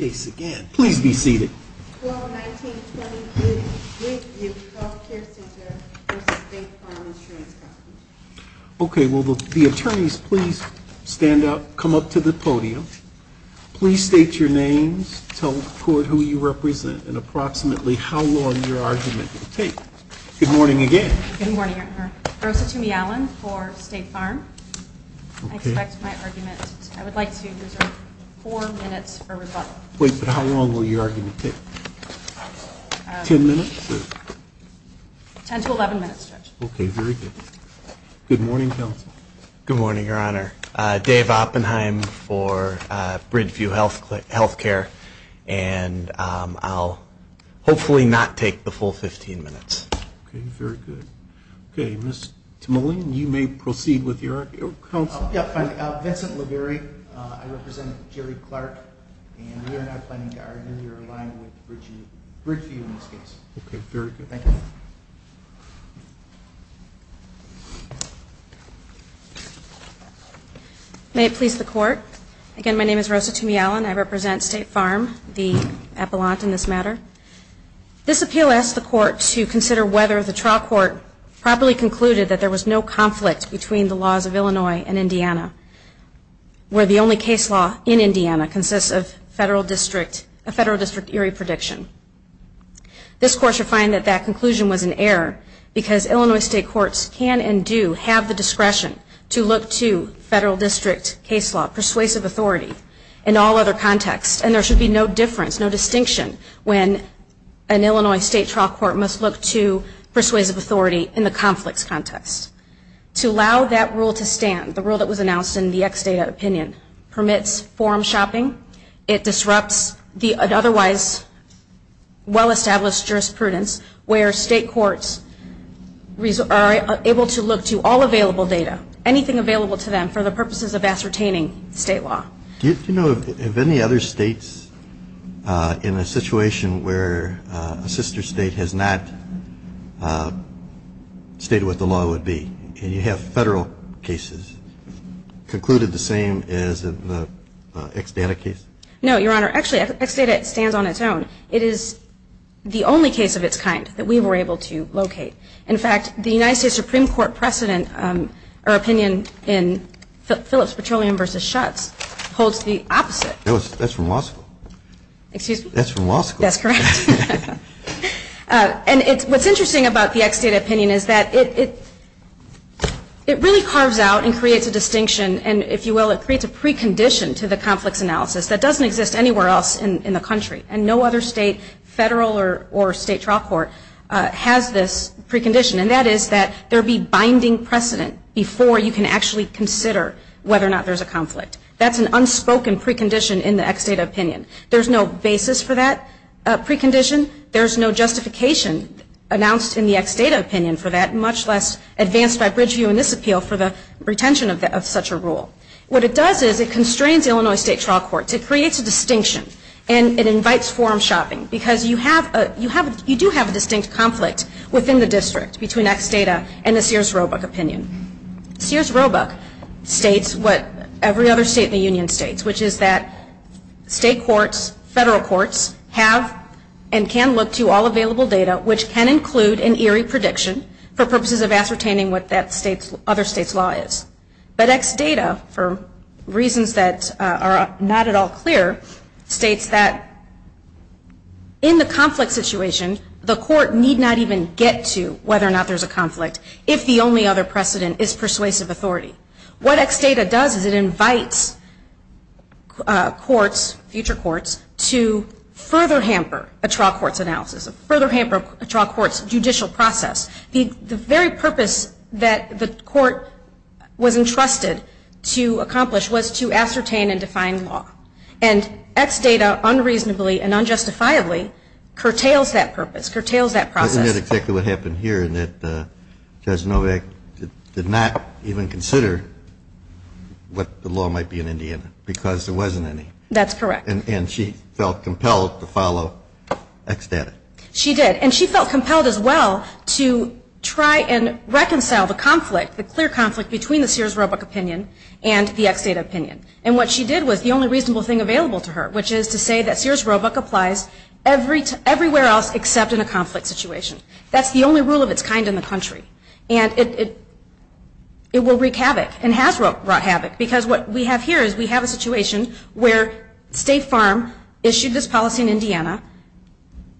Okay, will the attorneys please stand up, come up to the podium. Please state your names, tell the court who you represent, and approximately how long your argument will take. Good morning again. Good morning, your honor. Rosa Toomey Allen for State Farm. I expect my argument, I would like to reserve four minutes for rebuttal. Wait, but how long will your argument take? Ten minutes? Ten to eleven minutes, Judge. Okay, very good. Good morning, counsel. Good morning, your honor. Dave Oppenheim for Bridgeview Health Care, and I'll hopefully not take the full 15 minutes. Okay, very good. Okay, Ms. Timoline, you may proceed with your counsel. Yeah, fine. Vincent Laverie, I represent Jerry Clark, and we are not planning to argue your line with Bridgeview in this case. Okay, very good. Thank you. May it please the court. Again, my name is Rosa Toomey Allen. I represent State Farm, the appellant in this matter. This appeal asks the court to consider whether the trial court properly concluded that there was no conflict between the laws of Illinois and Indiana, where the only case law in Indiana consists of a federal district eerie prediction. This court should find that that conclusion was an error, because Illinois state courts can and do have the discretion to look to federal district case law persuasive authority in all other contexts, and there should be no difference, no distinction, when an Illinois state trial court must look to persuasive authority in the conflicts context. To allow that rule to stand, the rule that was announced in the ex data opinion, permits forum shopping. It disrupts the otherwise well-established jurisprudence where state courts are able to look to all available data, anything available to them for the purposes of ascertaining state law. Do you know of any other states in a situation where a sister state has not stated what the law would be, and you have federal cases concluded the same as in the ex data case? No, Your Honor. Actually, ex data stands on its own. It is the only case of its kind that we were able to locate. In fact, the United States Supreme Court precedent, or opinion in Phillips Petroleum versus Schutz holds the opposite. That's from law school. Excuse me? That's from law school. That's correct. And what's interesting about the ex data opinion is that it really carves out and creates a distinction, and if you will, it creates a precondition to the conflicts analysis that doesn't exist anywhere else in the country. And no other state, federal or state trial court, has this precondition. And that is that there be binding precedent before you can actually consider whether or not there's a conflict. That's an unspoken precondition in the ex data opinion. There's no basis for that precondition. There's no justification announced in the ex data opinion for that, much less advanced by Bridgeview in this appeal for the retention of such a rule. What it does is it constrains Illinois state trial courts. It creates a distinction, and it invites forum shopping, because you do have a distinct conflict within the district between ex data and the Sears Roebuck opinion. Sears Roebuck states what every other state in the union states, which is that state courts, federal courts, have and can look to all available data, which can include an eerie prediction for purposes of ascertaining what that other state's law is. But ex data, for reasons that are not at all clear, states that in the conflict situation, the court need not even get to whether or not there's a conflict if the only other precedent is persuasive authority. What ex data does is it invites courts, future courts, to further hamper a trial court's analysis, further hamper a trial court's judicial process. The very purpose that the court was entrusted to accomplish was to ascertain and define law. And ex data unreasonably and unjustifiably curtails that purpose, curtails that process. And that's exactly what happened here, in that Judge Novak did not even consider what the law might be in Indiana, because there wasn't any. That's correct. And she felt compelled to follow ex data. She did. And she felt compelled as well to try and reconcile the conflict, the clear conflict, between the Sears Roebuck opinion and the ex data opinion. And what she did was the only reasonable thing available to her, which is to say that Sears Roebuck applies everywhere else except in a conflict situation. That's the only rule of its kind in the country. And it will wreak havoc and has wrought havoc, because what we have here is we have a situation where State Farm issued this policy in Indiana,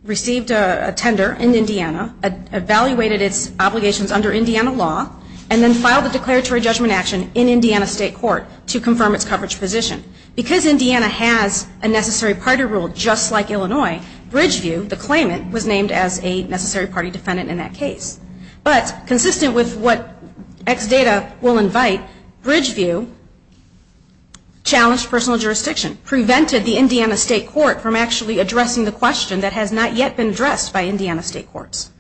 received a tender in Indiana, evaluated its obligations under Indiana law, and then filed a declaratory judgment action in Indiana State Court to confirm its coverage position. Because Indiana has a necessary party rule just like Illinois, Bridgeview, the claimant, was named as a necessary party defendant in that case. But consistent with what ex data will invite, Bridgeview challenged personal jurisdiction, prevented the Indiana State Court from actually addressing the question that has not yet been addressed by Indiana State Courts.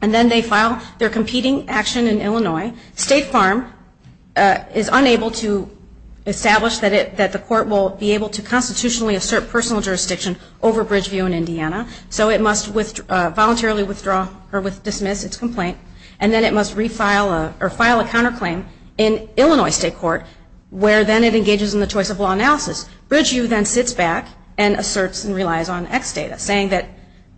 And then they file their competing action in Illinois. State Farm is unable to establish that the court will be able to constitutionally assert personal jurisdiction over Bridgeview in Indiana. So it must voluntarily withdraw or dismiss its complaint. And then it must refile or file a counterclaim in Illinois State Court, where then it engages in the choice of law analysis. Bridgeview then sits back and asserts and relies on ex data, saying that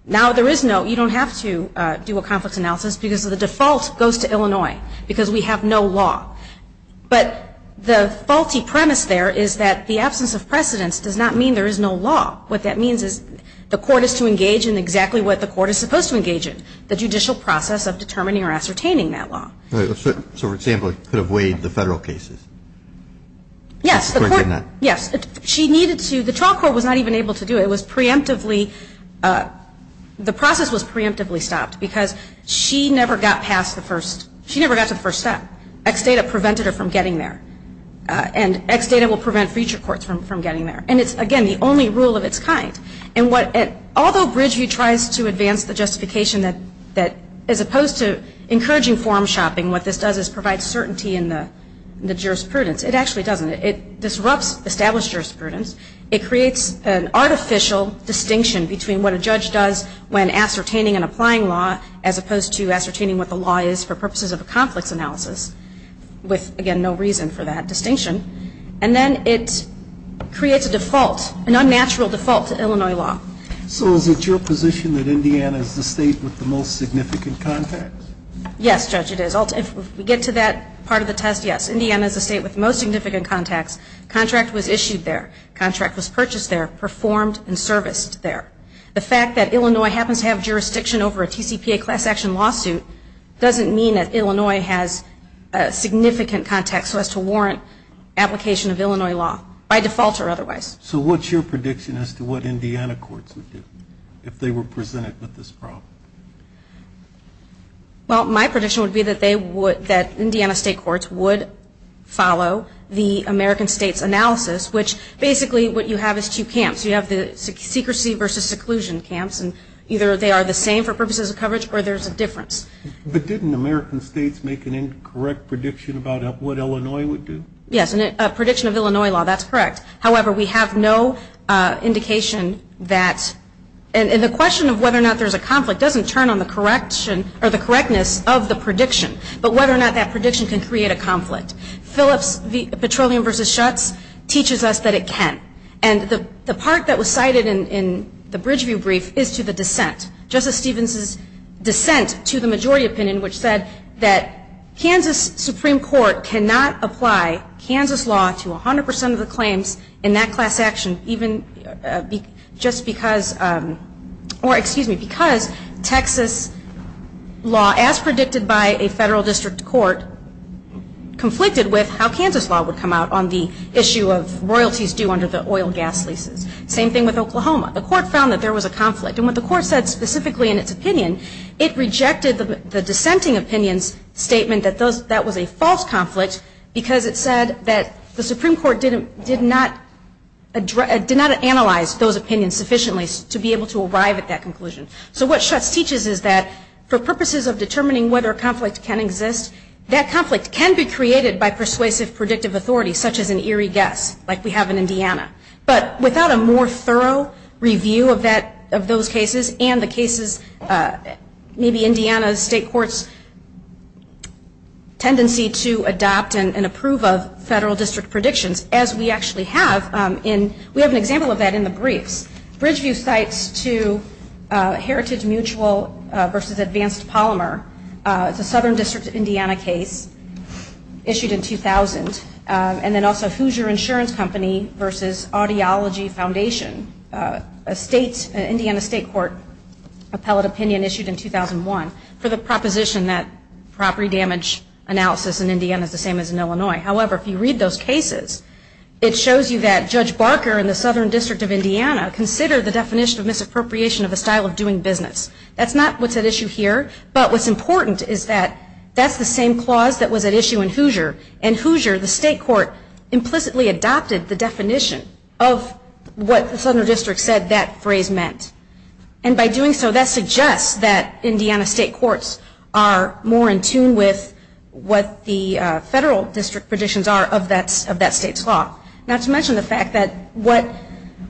now there is no, you don't have to do a conflict analysis because the default goes to Illinois because we have no law. But the faulty premise there is that the absence of precedence does not mean there is no law. What that means is the court is to engage in exactly what the court is supposed to engage in, the judicial process of determining or ascertaining that law. So, for example, it could have weighed the Federal cases? Yes. Yes. She needed to. The trial court was not even able to do it. It was preemptively, the process was preemptively stopped because she never got past the first, she never got to the first step. Ex data prevented her from getting there. And ex data will prevent future courts from getting there. And it's, again, the only rule of its kind. Although Bridgeview tries to advance the justification that, as opposed to encouraging form shopping, what this does is provide certainty in the jurisprudence, it actually doesn't. It disrupts established jurisprudence. It creates an artificial distinction between what a judge does when ascertaining and applying law as opposed to ascertaining what the law is for purposes of a conflict analysis, with, again, no reason for that distinction. And then it creates a default, an unnatural default to Illinois law. So is it your position that Indiana is the state with the most significant contacts? Yes, Judge, it is. If we get to that part of the test, yes. Indiana is the state with the most significant contacts. Contract was issued there. Contract was purchased there, performed and serviced there. The fact that Illinois happens to have jurisdiction over a TCPA class action lawsuit doesn't mean that Illinois has significant contacts so as to warrant application of Illinois law by default or otherwise. So what's your prediction as to what Indiana courts would do if they were presented with this problem? Well, my prediction would be that Indiana state courts would follow the American states analysis, which basically what you have is two camps. You have the secrecy versus seclusion camps, and either they are the same for purposes of coverage or there's a difference. But didn't American states make an incorrect prediction about what Illinois would do? Yes, a prediction of Illinois law, that's correct. However, we have no indication that, and the question of whether or not there's a conflict doesn't turn on the correctness of the prediction, but whether or not that prediction can create a conflict. Phillips Petroleum versus Schutz teaches us that it can. And the part that was cited in the Bridgeview brief is to the dissent. Justice Stevens' dissent to the majority opinion, which said that Kansas Supreme Court cannot apply Kansas law to 100% of the claims in that class action, even just because, or excuse me, because Texas law, as predicted by a federal district court, conflicted with how Kansas law would come out on the issue of royalties due under the oil gas leases. Same thing with Oklahoma. The court found that there was a conflict. And what the court said specifically in its opinion, it rejected the dissenting opinion's statement that that was a false conflict because it said that the Supreme Court did not analyze those opinions sufficiently to be able to arrive at that conclusion. So what Schutz teaches is that for purposes of determining whether a conflict can exist, that conflict can be created by persuasive predictive authority, such as an eerie guess, like we have in Indiana. But without a more thorough review of those cases and the cases, maybe Indiana's state court's tendency to adopt and approve of federal district predictions, as we actually have, we have an example of that in the briefs. Bridgeview cites two heritage mutual versus advanced polymer. It's a Southern District of Indiana case issued in 2000. And then also Hoosier Insurance Company versus Audiology Foundation, an Indiana state court appellate opinion issued in 2001 for the proposition that property damage analysis in Indiana is the same as in Illinois. However, if you read those cases, it shows you that Judge Barker in the Southern District of Indiana considered the definition of misappropriation of a style of doing business. That's not what's at issue here, but what's important is that that's the same clause that was at issue in Hoosier, and Hoosier, the state court, implicitly adopted the definition of what the Southern District said that phrase meant. And by doing so, that suggests that Indiana state courts are more in tune with what the federal district predictions are of that state's law. Not to mention the fact that what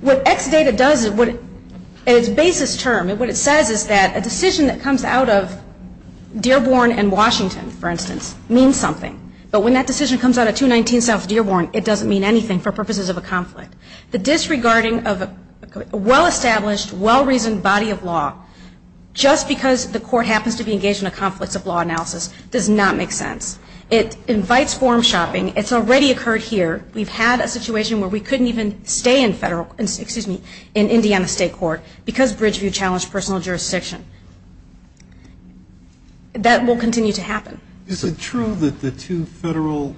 Exadata does at its basis term, what it says is that a decision that comes out of Dearborn and Washington, for instance, means something. But when that decision comes out of 219 South Dearborn, it doesn't mean anything for purposes of a conflict. The disregarding of a well-established, well-reasoned body of law, just because the court happens to be engaged in a conflicts of law analysis, does not make sense. It invites form shopping. It's already occurred here. We've had a situation where we couldn't even stay in Indiana state court because Bridgeview challenged personal jurisdiction. That will continue to happen. Is it true that the two federal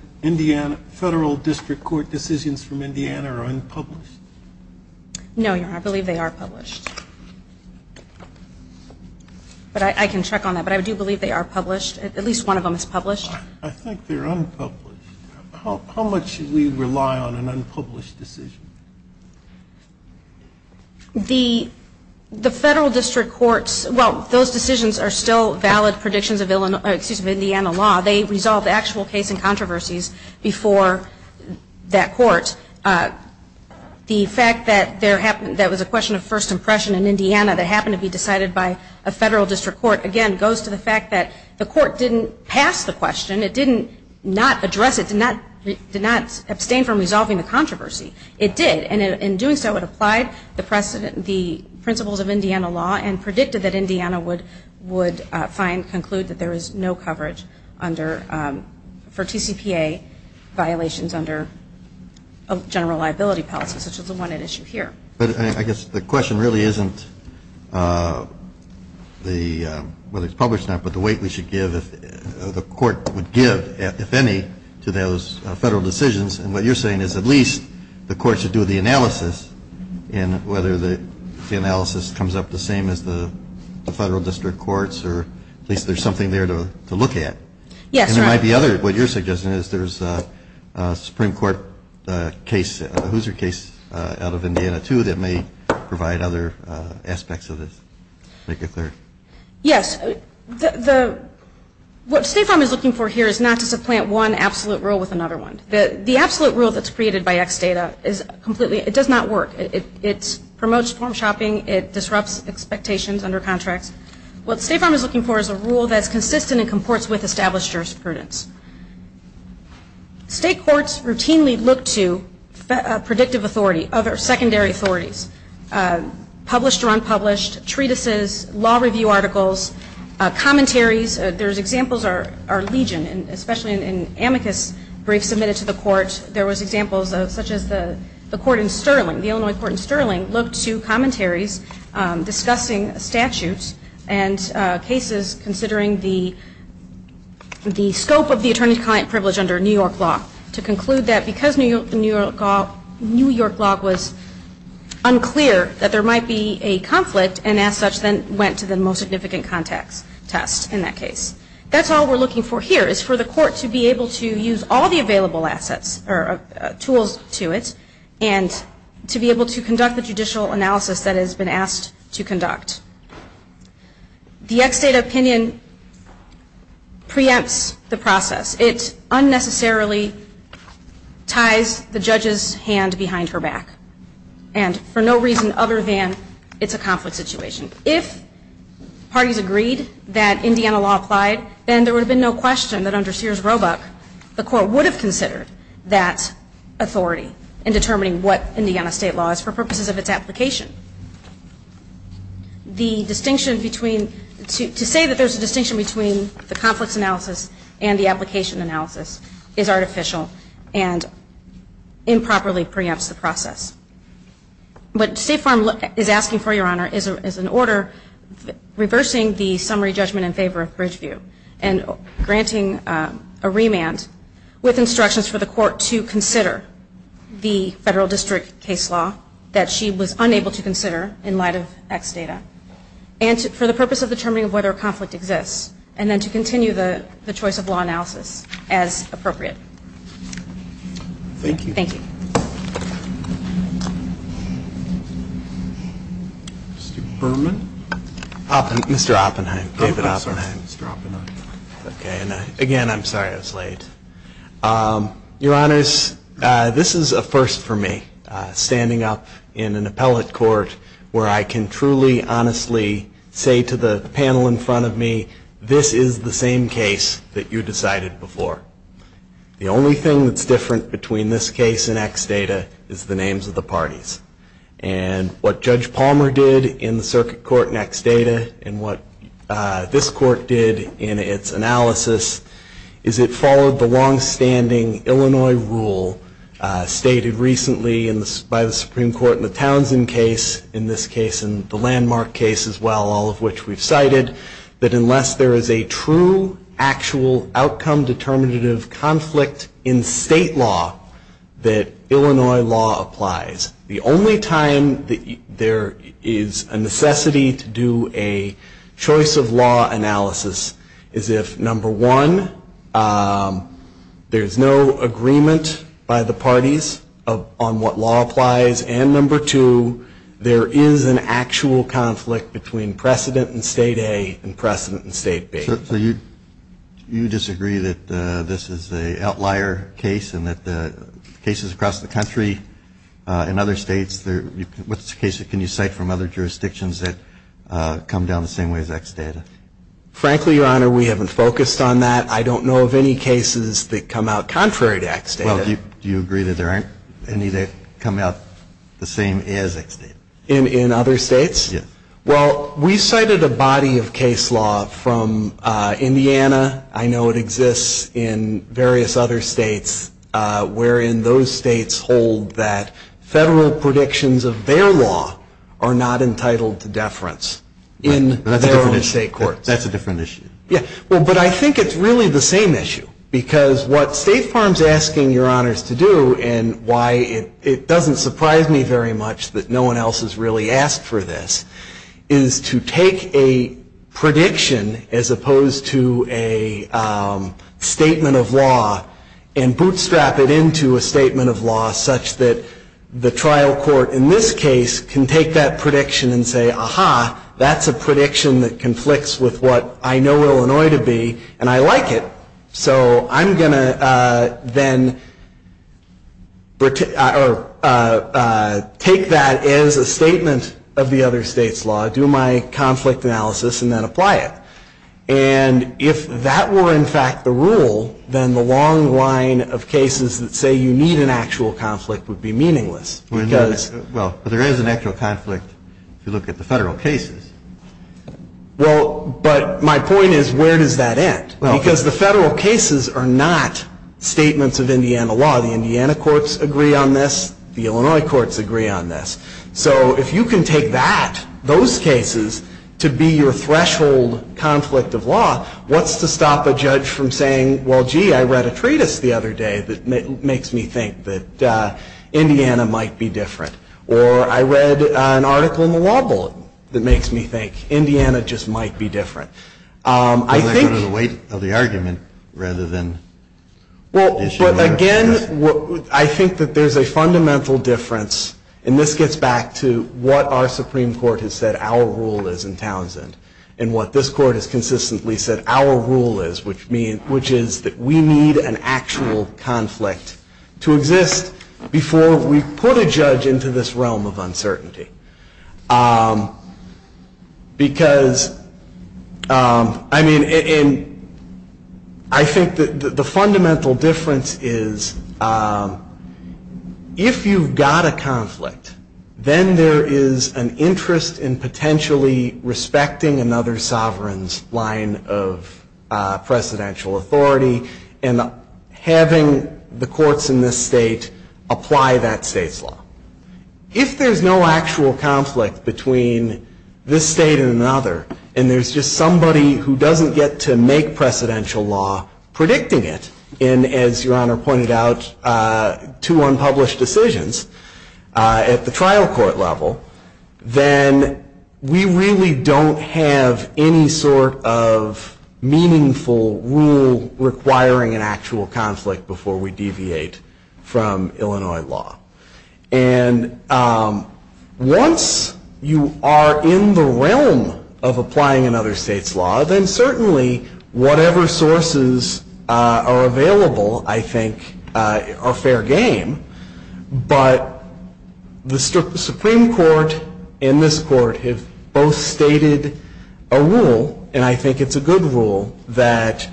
district court decisions from Indiana are unpublished? No, Your Honor. I believe they are published. But I can check on that. But I do believe they are published. At least one of them is published. I think they're unpublished. How much should we rely on an unpublished decision? The federal district courts, well, those decisions are still valid predictions of Indiana law. They resolve the actual case in controversies before that court. The fact that there was a question of first impression in Indiana that happened to be decided by a federal district court, again, goes to the fact that the court didn't pass the question. It did not address it, did not abstain from resolving the controversy. It did. And in doing so, it applied the principles of Indiana law and predicted that Indiana would find, conclude that there is no coverage for TCPA violations under general liability policy, such as the one at issue here. But I guess the question really isn't whether it's published or not, but the weight the court would give, if any, to those federal decisions. And what you're saying is at least the court should do the analysis and whether the analysis comes up the same as the federal district courts or at least there's something there to look at. Yes. And there might be others. What you're suggesting is there's a Supreme Court case, a Hoosier case, out of Indiana, too, that may provide other aspects of this. Make it clear. Yes. What State Farm is looking for here is not to supplant one absolute rule with another one. The absolute rule that's created by X data does not work. It promotes form shopping. It disrupts expectations under contracts. What State Farm is looking for is a rule that's consistent and comports with established jurisprudence. State courts routinely look to predictive authority, other secondary authorities, published or unpublished, treatises, law review articles, commentaries. There's examples, our legion, especially in amicus briefs submitted to the court, there was examples such as the court in Sterling, the Illinois court in Sterling, looked to commentaries discussing statutes and cases considering the scope of the attorney-client privilege under New York law to conclude that because the New York law was unclear that there might be a conflict and as such then went to the most significant context test in that case. That's all we're looking for here is for the court to be able to use all the available assets or tools to it and to be able to conduct the judicial analysis that has been asked to conduct. The X data opinion preempts the process. It unnecessarily ties the judge's hand behind her back and for no reason other than it's a conflict situation. If parties agreed that Indiana law applied, then there would have been no question that under Sears Roebuck, the court would have considered that authority in determining what Indiana state law is for purposes of its application. The distinction between, to say that there's a distinction between the conflict analysis and the application analysis is artificial and improperly preempts the process. What State Farm is asking for, Your Honor, is an order reversing the summary judgment in favor of Bridgeview and granting a remand with instructions for the court to consider the federal district case law that she was unable to consider in light of X data and for the purpose of determining whether a conflict exists and then to continue the choice of law analysis as appropriate. Thank you. Thank you. Mr. Berman. Mr. Oppenheim. David Oppenheim. Mr. Oppenheim. Okay. Again, I'm sorry I was late. Your Honors, this is a first for me, standing up in an appellate court where I can truly, honestly say to the panel in front of me, this is the same case that you decided before. The only thing that's different between this case and X data is the names of the parties. And what Judge Palmer did in the circuit court in X data and what this court did in its analysis is it followed the longstanding Illinois rule stated recently by the Supreme Court in the Townsend case, in this case and the landmark case as well, all of which we've cited, that unless there is a true actual outcome determinative conflict in state law, that Illinois law applies. The only time that there is a necessity to do a choice of law analysis is if, number one, there's no agreement by the parties on what law applies, and number two, there is an actual conflict between precedent in state A and precedent in state B. So you disagree that this is an outlier case and that the cases across the country and other states, what's the case that can you cite from other jurisdictions that come down the same way as X data? Frankly, Your Honor, we haven't focused on that. I don't know of any cases that come out contrary to X data. Well, do you agree that there aren't any that come out the same as X data? In other states? Yes. Well, we cited a body of case law from Indiana. I know it exists in various other states, wherein those states hold that federal predictions of their law are not entitled to deference in their own state courts. That's a different issue. Yeah. Well, but I think it's really the same issue, because what State Farm is asking Your Honors to do and why it doesn't surprise me very much that no one else has really asked for this, is to take a prediction as opposed to a statement of law and bootstrap it into a statement of law such that the trial court in this case can take that prediction and say, aha, that's a prediction that conflicts with what I know Illinois to be, and I like it, so I'm going to then take that as a statement of the other state's law, do my conflict analysis, and then apply it. And if that were, in fact, the rule, then the long line of cases that say you need an actual conflict would be meaningless. Well, but there is an actual conflict if you look at the federal cases. Well, but my point is, where does that end? Because the federal cases are not statements of Indiana law. The Indiana courts agree on this. The Illinois courts agree on this. So if you can take that, those cases, to be your threshold conflict of law, what's to stop a judge from saying, well, gee, I read a treatise the other day that makes me think that Indiana might be different, or I read an article in the law bullet that makes me think Indiana just might be different. I think the weight of the argument rather than the issue. Well, again, I think that there's a fundamental difference, and this gets back to what our Supreme Court has said our rule is in Townsend and what this court has consistently said our rule is, which is that we need an actual conflict to exist before we put a judge into this realm of uncertainty. Because, I mean, I think that the fundamental difference is if you've got a conflict, then there is an interest in potentially respecting another sovereign's line of precedential authority and having the courts in this state apply that state's law. If there's no actual conflict between this state and another, and there's just somebody who doesn't get to make precedential law predicting it, and, as Your Honor pointed out, two unpublished decisions at the trial court level, then we really don't have any sort of meaningful rule requiring an actual conflict before we deviate from Illinois law. And once you are in the realm of applying another state's law, then certainly whatever sources are available, I think, are fair game. But the Supreme Court and this court have both stated a rule, and I think it's a good rule that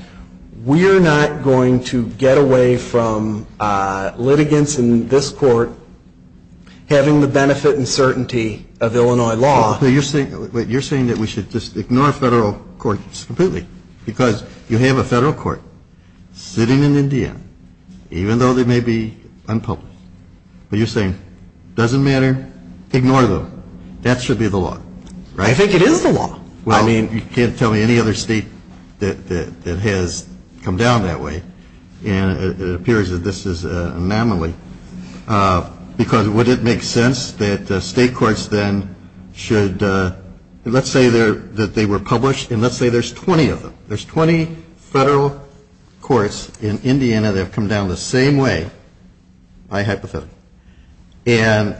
we are not going to get away from litigants in this court having the benefit and certainty of Illinois law. You're saying that we should just ignore federal courts completely, because you have a federal court sitting in Indiana, even though they may be unpublished, but you're saying it doesn't matter, ignore them. That should be the law. I think it is the law. Well, you can't tell me any other state that has come down that way, and it appears that this is an anomaly, because would it make sense that state courts then should, let's say that they were published, and let's say there's 20 of them. There's 20 federal courts in Indiana that have come down the same way, I hypothetically. And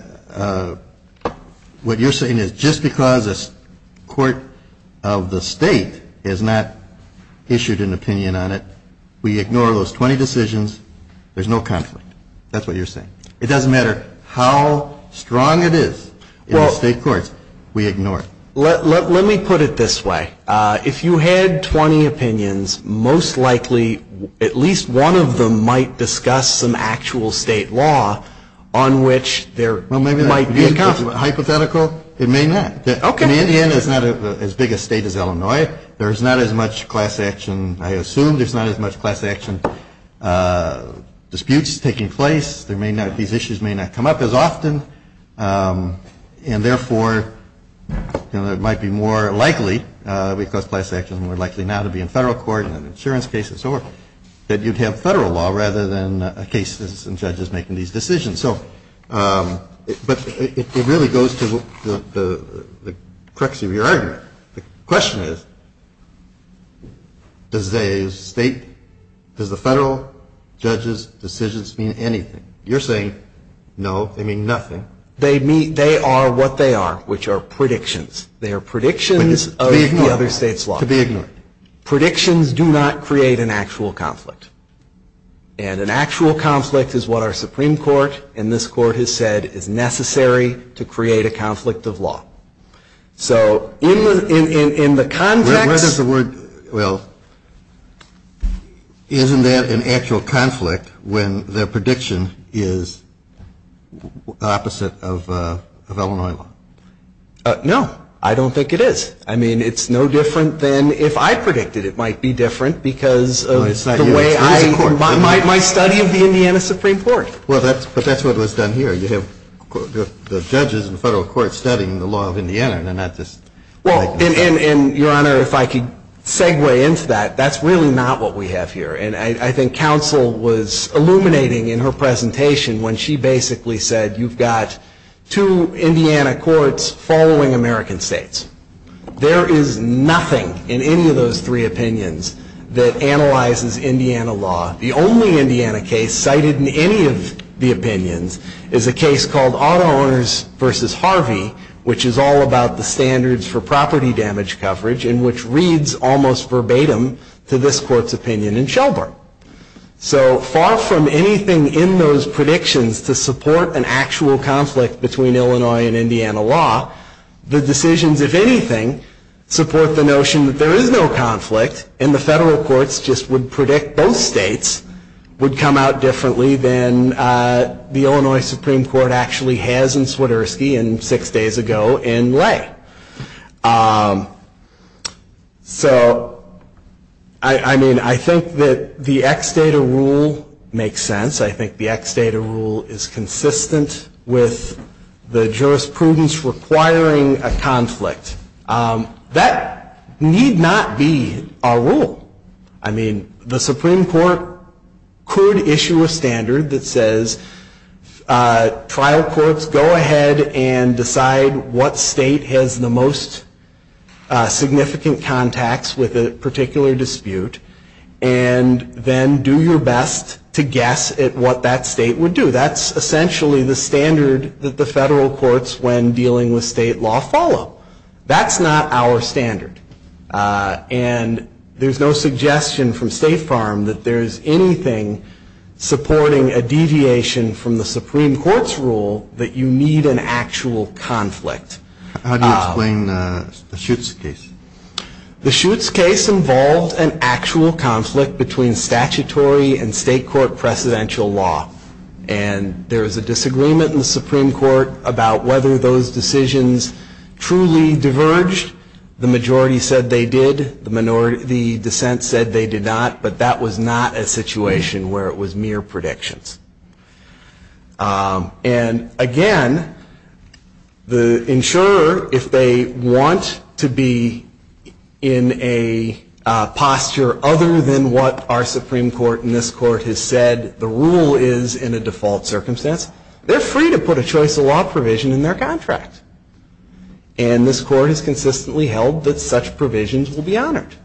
what you're saying is just because a court of the state has not issued an opinion on it, we ignore those 20 decisions, there's no conflict. That's what you're saying. It doesn't matter how strong it is in the state courts, we ignore it. Let me put it this way. If you had 20 opinions, most likely at least one of them might discuss some actual state law on which there might be a conflict. Hypothetical? It may not. In Indiana, it's not as big a state as Illinois. There's not as much class action, I assume there's not as much class action disputes taking place. These issues may not come up as often, and therefore it might be more likely, because class action is more likely now to be in federal court and in insurance cases, or that you'd have federal law rather than cases and judges making these decisions. But it really goes to the crux of your argument. The question is, does the federal judges' decisions mean anything? You're saying no, they mean nothing. They are what they are, which are predictions. They are predictions of the other state's law. To be ignored. Predictions do not create an actual conflict. And an actual conflict is what our Supreme Court and this Court has said is necessary to create a conflict of law. So in the context... Where does the word, well, isn't that an actual conflict when the prediction is opposite of Illinois law? No. I don't think it is. I mean, it's no different than if I predicted it might be different because of the way I... No, it's not you. It is the Court. My study of the Indiana Supreme Court. Well, but that's what was done here. You have the judges and federal courts studying the law of Indiana. They're not just... Well, and, Your Honor, if I could segue into that, that's really not what we have here. And I think counsel was illuminating in her presentation when she basically said, you've got two Indiana courts following American states. There is nothing in any of those three opinions that analyzes Indiana law. The only Indiana case cited in any of the opinions is a case called Auto Owners v. Harvey, which is all about the standards for property damage coverage and which reads almost verbatim to this Court's opinion in Shelburne. So far from anything in those predictions to support an actual conflict between Illinois and Indiana law, the decisions, if anything, support the notion that there is no conflict and the federal courts just would predict both states would come out differently than the Illinois Supreme Court actually has in Swiderski and six days ago in Lay. So, I mean, I think that the ex-data rule makes sense. I think the ex-data rule is consistent with the jurisprudence requiring a conflict. That need not be a rule. I mean, the Supreme Court could issue a standard that says trial courts go ahead and decide what state has the most significant contacts with a particular dispute and then do your best to guess at what that state would do. That's essentially the standard that the federal courts, when dealing with state law, follow. That's not our standard. And there's no suggestion from State Farm that there's anything supporting a deviation from the Supreme Court's rule that you need an actual conflict. How do you explain the Schutz case? The Schutz case involved an actual conflict between statutory and state court precedential law. And there was a disagreement in the Supreme Court about whether those decisions truly diverged. The majority said they did. The minority, the dissent said they did not. But that was not a situation where it was mere predictions. And, again, the insurer, if they want to be in a posture other than what our Supreme Court and this court has said the rule is in a default circumstance, they're free to put a choice of law provision in their contract. And this court has consistently held that such provisions will be honored.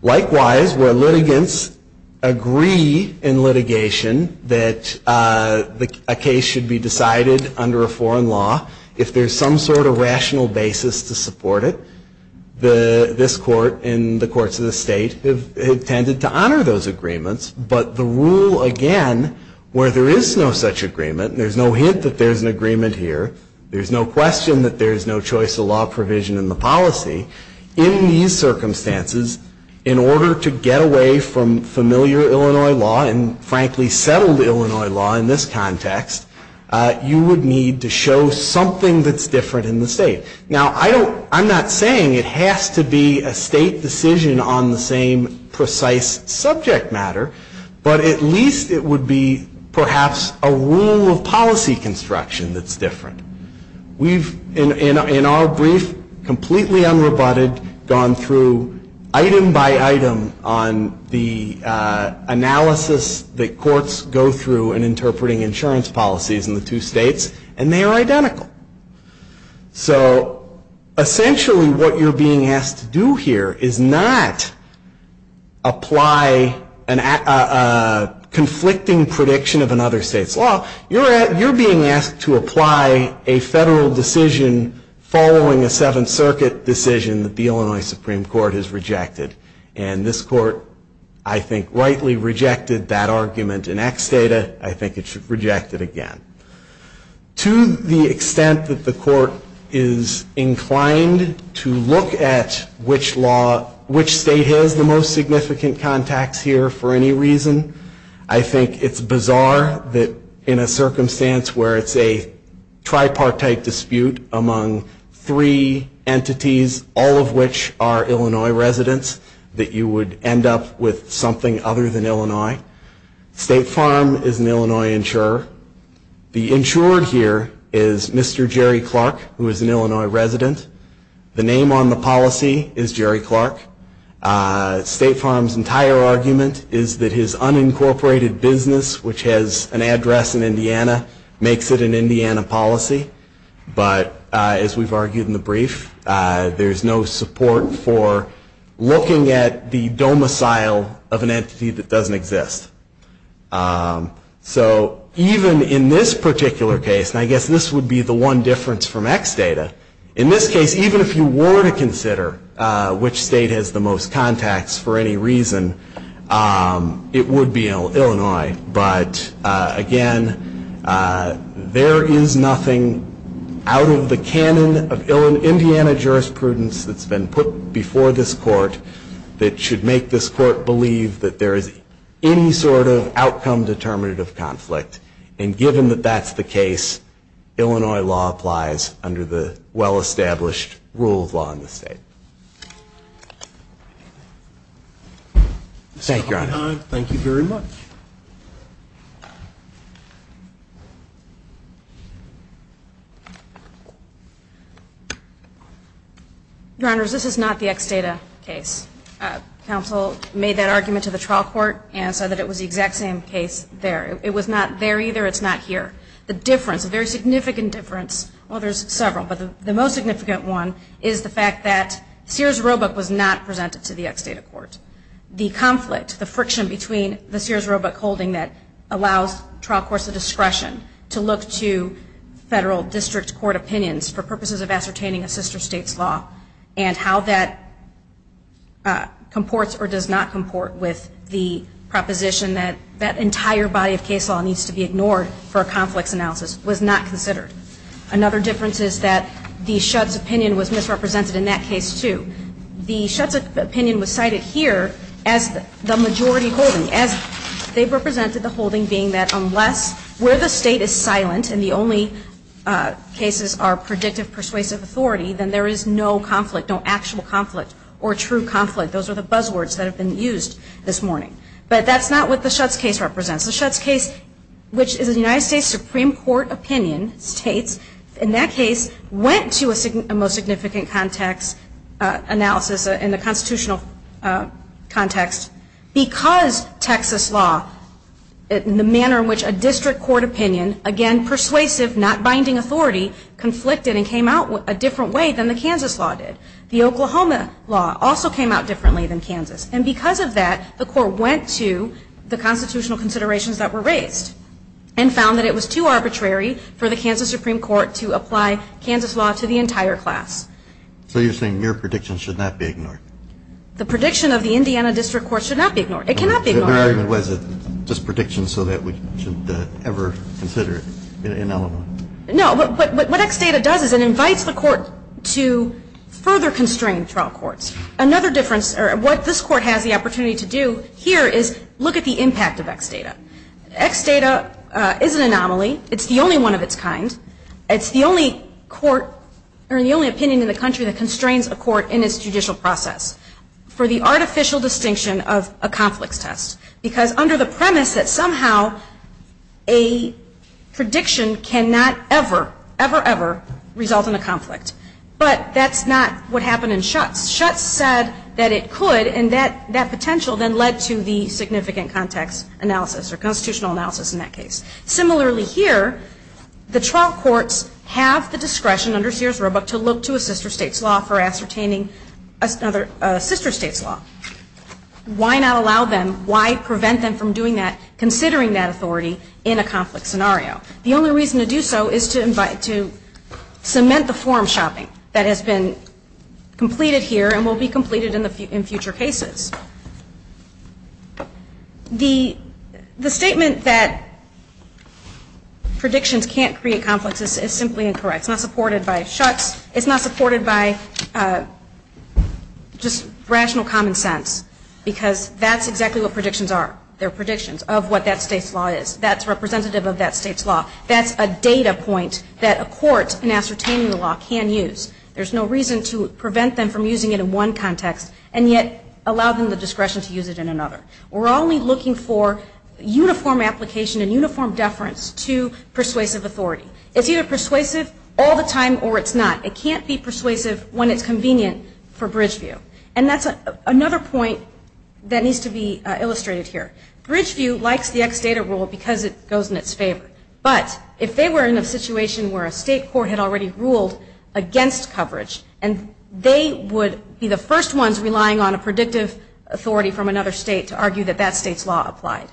Likewise, where litigants agree in litigation that a case should be decided under a foreign law, if there's some sort of rational basis to support it, this court and the courts of the state have tended to honor those agreements. But the rule, again, where there is no such agreement, there's no hint that there's an agreement here, there's no question that there's no choice of law provision in the policy, in these circumstances, in order to get away from familiar Illinois law and, frankly, settled Illinois law in this context, you would need to show something that's different in the state. Now, I'm not saying it has to be a state decision on the same precise subject matter, but at least it would be perhaps a rule of policy construction that's different. We've, in our brief, completely unrebutted, gone through item by item on the analysis that courts go through in interpreting insurance policies in the two states, and they are identical. So, essentially, what you're being asked to do here is not apply a conflicting prediction of another state's law. You're being asked to apply a federal decision following a Seventh Circuit decision that the Illinois Supreme Court has rejected. And this court, I think, rightly rejected that argument in X data. I think it should reject it again. To the extent that the court is inclined to look at which state has the most significant contacts here for any reason, I think it's bizarre that in a circumstance where it's a tripartite dispute among three entities, all of which are Illinois residents, that you would end up with something other than Illinois. State Farm is an Illinois insurer. The insured here is Mr. Jerry Clark, who is an Illinois resident. The name on the policy is Jerry Clark. State Farm's entire argument is that his unincorporated business, which has an address in Indiana, makes it an Indiana policy. But, as we've argued in the brief, there's no support for looking at the domicile of an entity that doesn't exist. So, even in this particular case, and I guess this would be the one difference from X data, in this case, even if you were to consider which state has the most contacts for any reason, it would be Illinois. But, again, there is nothing out of the canon of Indiana jurisprudence that's been put before this court that should make this court believe that there is any sort of outcome determinative conflict. And, given that that's the case, Illinois law applies under the well-established rule of law in the state. Thank you, Your Honor. Thank you very much. Your Honors, this is not the X data case. Counsel made that argument to the trial court and said that it was the exact same case there. It was not there either. It's not here. The difference, a very significant difference, well, there's several, but the most significant one is the fact that Sears Roebuck was not presented to the X data court. The conflict, the friction between the Sears Roebuck holding that allows trial courts the discretion to look to federal district court opinions for purposes of ascertaining a sister state's law and how that comports or does not comport with the proposition that that entire body of case law needs to be ignored for a conflicts analysis was not considered. Another difference is that the Shudd's opinion was misrepresented in that case, too. The Shudd's opinion was cited here as the majority holding, as they represented the holding being that unless where the state is silent and the only cases are predictive persuasive authority, then there is no conflict, no actual conflict or true conflict. Those are the buzzwords that have been used this morning. But that's not what the Shudd's case represents. The Shudd's case, which is a United States Supreme Court opinion, states, in that case, went to a most significant context analysis in the constitutional context because Texas law, the manner in which a district court opinion, again, persuasive, not binding authority, conflicted and came out a different way than the Kansas law did. The Oklahoma law also came out differently than Kansas. And because of that, the court went to the constitutional considerations that were raised and found that it was too arbitrary for the Kansas Supreme Court to apply Kansas law to the entire class. So you're saying your prediction should not be ignored? The prediction of the Indiana district court should not be ignored. It cannot be ignored. So the argument was just prediction so that we shouldn't ever consider it in Illinois? No. What X data does is it invites the court to further constrain trial courts. Another difference or what this court has the opportunity to do here is look at the impact of X data. X data is an anomaly. It's the only one of its kind. It's the only court or the only opinion in the country that constrains a court in its judicial process. For the artificial distinction of a conflicts test. Because under the premise that somehow a prediction cannot ever, ever, ever result in a conflict. But that's not what happened in Schutz. Schutz said that it could and that potential then led to the significant context analysis or constitutional analysis in that case. Similarly here, the trial courts have the discretion under Sears Roebuck to look to a sister state's law for ascertaining another sister state's law. Why not allow them? Why prevent them from doing that considering that authority in a conflict scenario? The only reason to do so is to cement the form shopping that has been completed here and will be completed in future cases. The statement that predictions can't create conflicts is simply incorrect. It's not supported by Schutz. It's not supported by just rational common sense. Because that's exactly what predictions are. They're predictions of what that state's law is. That's representative of that state's law. That's a data point that a court in ascertaining the law can use. There's no reason to prevent them from using it in one context and yet allow them the discretion to use it in another. We're only looking for uniform application and uniform deference to persuasive authority. It's either persuasive all the time or it's not. It can't be persuasive when it's convenient for Bridgeview. And that's another point that needs to be illustrated here. Bridgeview likes the ex data rule because it goes in its favor. But if they were in a situation where a state court had already ruled against coverage and they would be the first ones relying on a predictive authority from another state to argue that that state's law applied.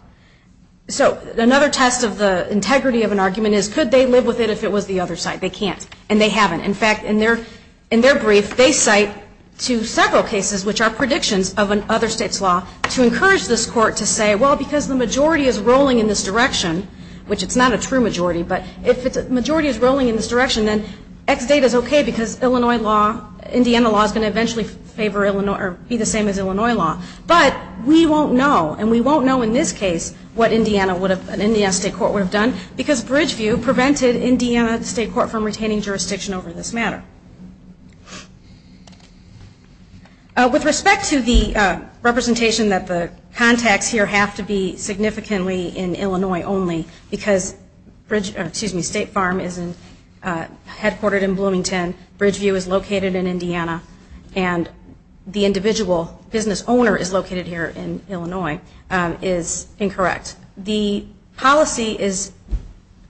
So another test of the integrity of an argument is could they live with it if it was the other side? They can't. And they haven't. In fact, in their brief, they cite to several cases which are predictions of another state's law to encourage this court to say, well, because the majority is rolling in this direction, which it's not a true majority, but if the majority is rolling in this direction, then ex data is okay because Illinois law, Indiana law is going to eventually be the same as Illinois law. But we won't know. And we won't know in this case what an Indiana state court would have done because Bridgeview prevented Indiana state court from retaining jurisdiction over this matter. With respect to the representation that the contacts here have to be significantly in Illinois only because State Farm is headquartered in Bloomington, Bridgeview is located in Indiana, and the individual business owner is located here in Illinois, is incorrect. The policy is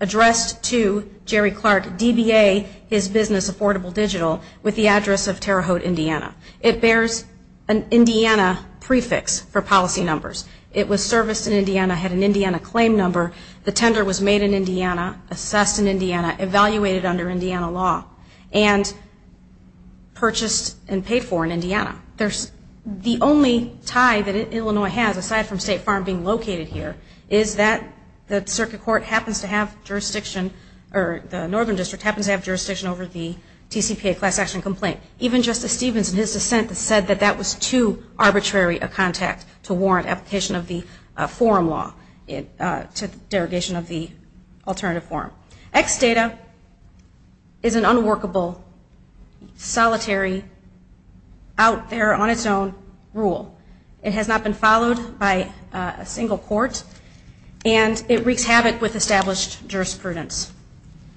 addressed to Jerry Clark, DBA, his business, Affordable Digital, with the address of Terre Haute, Indiana. It bears an Indiana prefix for policy numbers. It was serviced in Indiana, had an Indiana claim number. The tender was made in Indiana, assessed in Indiana, evaluated under Indiana law, and purchased and paid for in Indiana. The only tie that Illinois has, aside from State Farm being located here, is that the circuit court happens to have jurisdiction, or the northern district happens to have jurisdiction over the TCPA class action complaint. Even Justice Stevens in his dissent said that that was too arbitrary a contact to warrant application of the forum law, derogation of the alternative forum. Ex data is an unworkable, solitary, out there on its own rule. It has not been followed by a single court, and it wreaks havoc with established jurisprudence.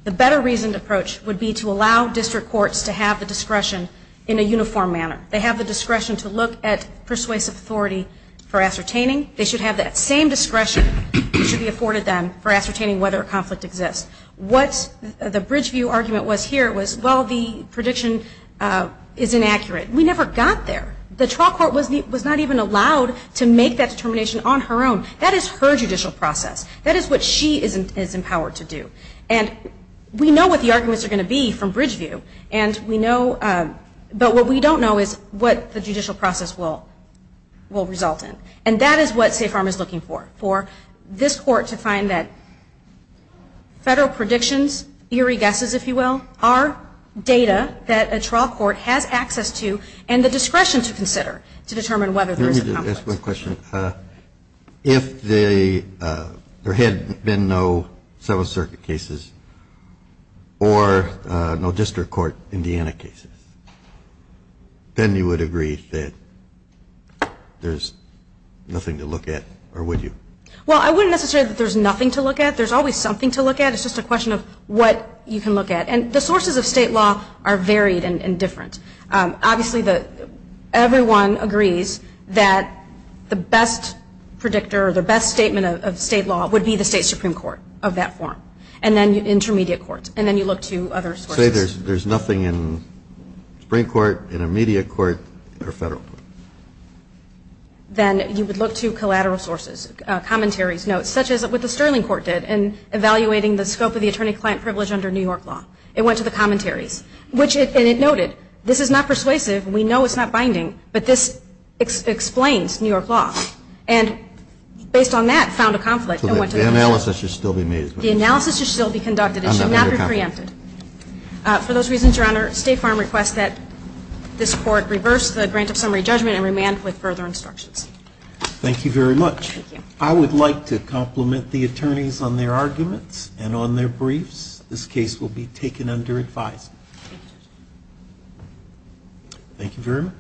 The better reasoned approach would be to allow district courts to have the discretion in a uniform manner. They have the discretion to look at persuasive authority for ascertaining. They should have that same discretion that should be afforded them for ascertaining whether a conflict exists. What the Bridgeview argument was here was, well, the prediction is inaccurate. We never got there. The trial court was not even allowed to make that determination on her own. That is her judicial process. That is what she is empowered to do. And we know what the arguments are going to be from Bridgeview, but what we don't know is what the judicial process will result in. And that is what Safe Arm is looking for, for this court to find that federal predictions, eerie guesses, if you will, are data that a trial court has access to and the discretion to consider to determine whether there is a conflict. Let me just ask one question. If there had been no Seventh Circuit cases or no district court Indiana cases, then you would agree that there is nothing to look at, or would you? Well, I wouldn't necessarily say that there is nothing to look at. There is always something to look at. It is just a question of what you can look at. And the sources of state law are varied and different. Obviously, everyone agrees that the best predictor or the best statement of state law would be the State Supreme Court of that form and then intermediate courts, and then you look to other sources. I would say there is nothing in the Supreme Court, intermediate court, or federal court. Then you would look to collateral sources, commentaries, notes, such as what the Sterling Court did in evaluating the scope of the attorney-client privilege under New York law. It went to the commentaries. And it noted, this is not persuasive, we know it is not binding, but this explains New York law. And based on that, found a conflict. The analysis should still be made. The analysis should still be conducted. It should not be preempted. For those reasons, Your Honor, State Farm requests that this Court reverse the grant of summary judgment and remand with further instructions. Thank you very much. Thank you. I would like to compliment the attorneys on their arguments and on their briefs. This case will be taken under advice. Thank you very much.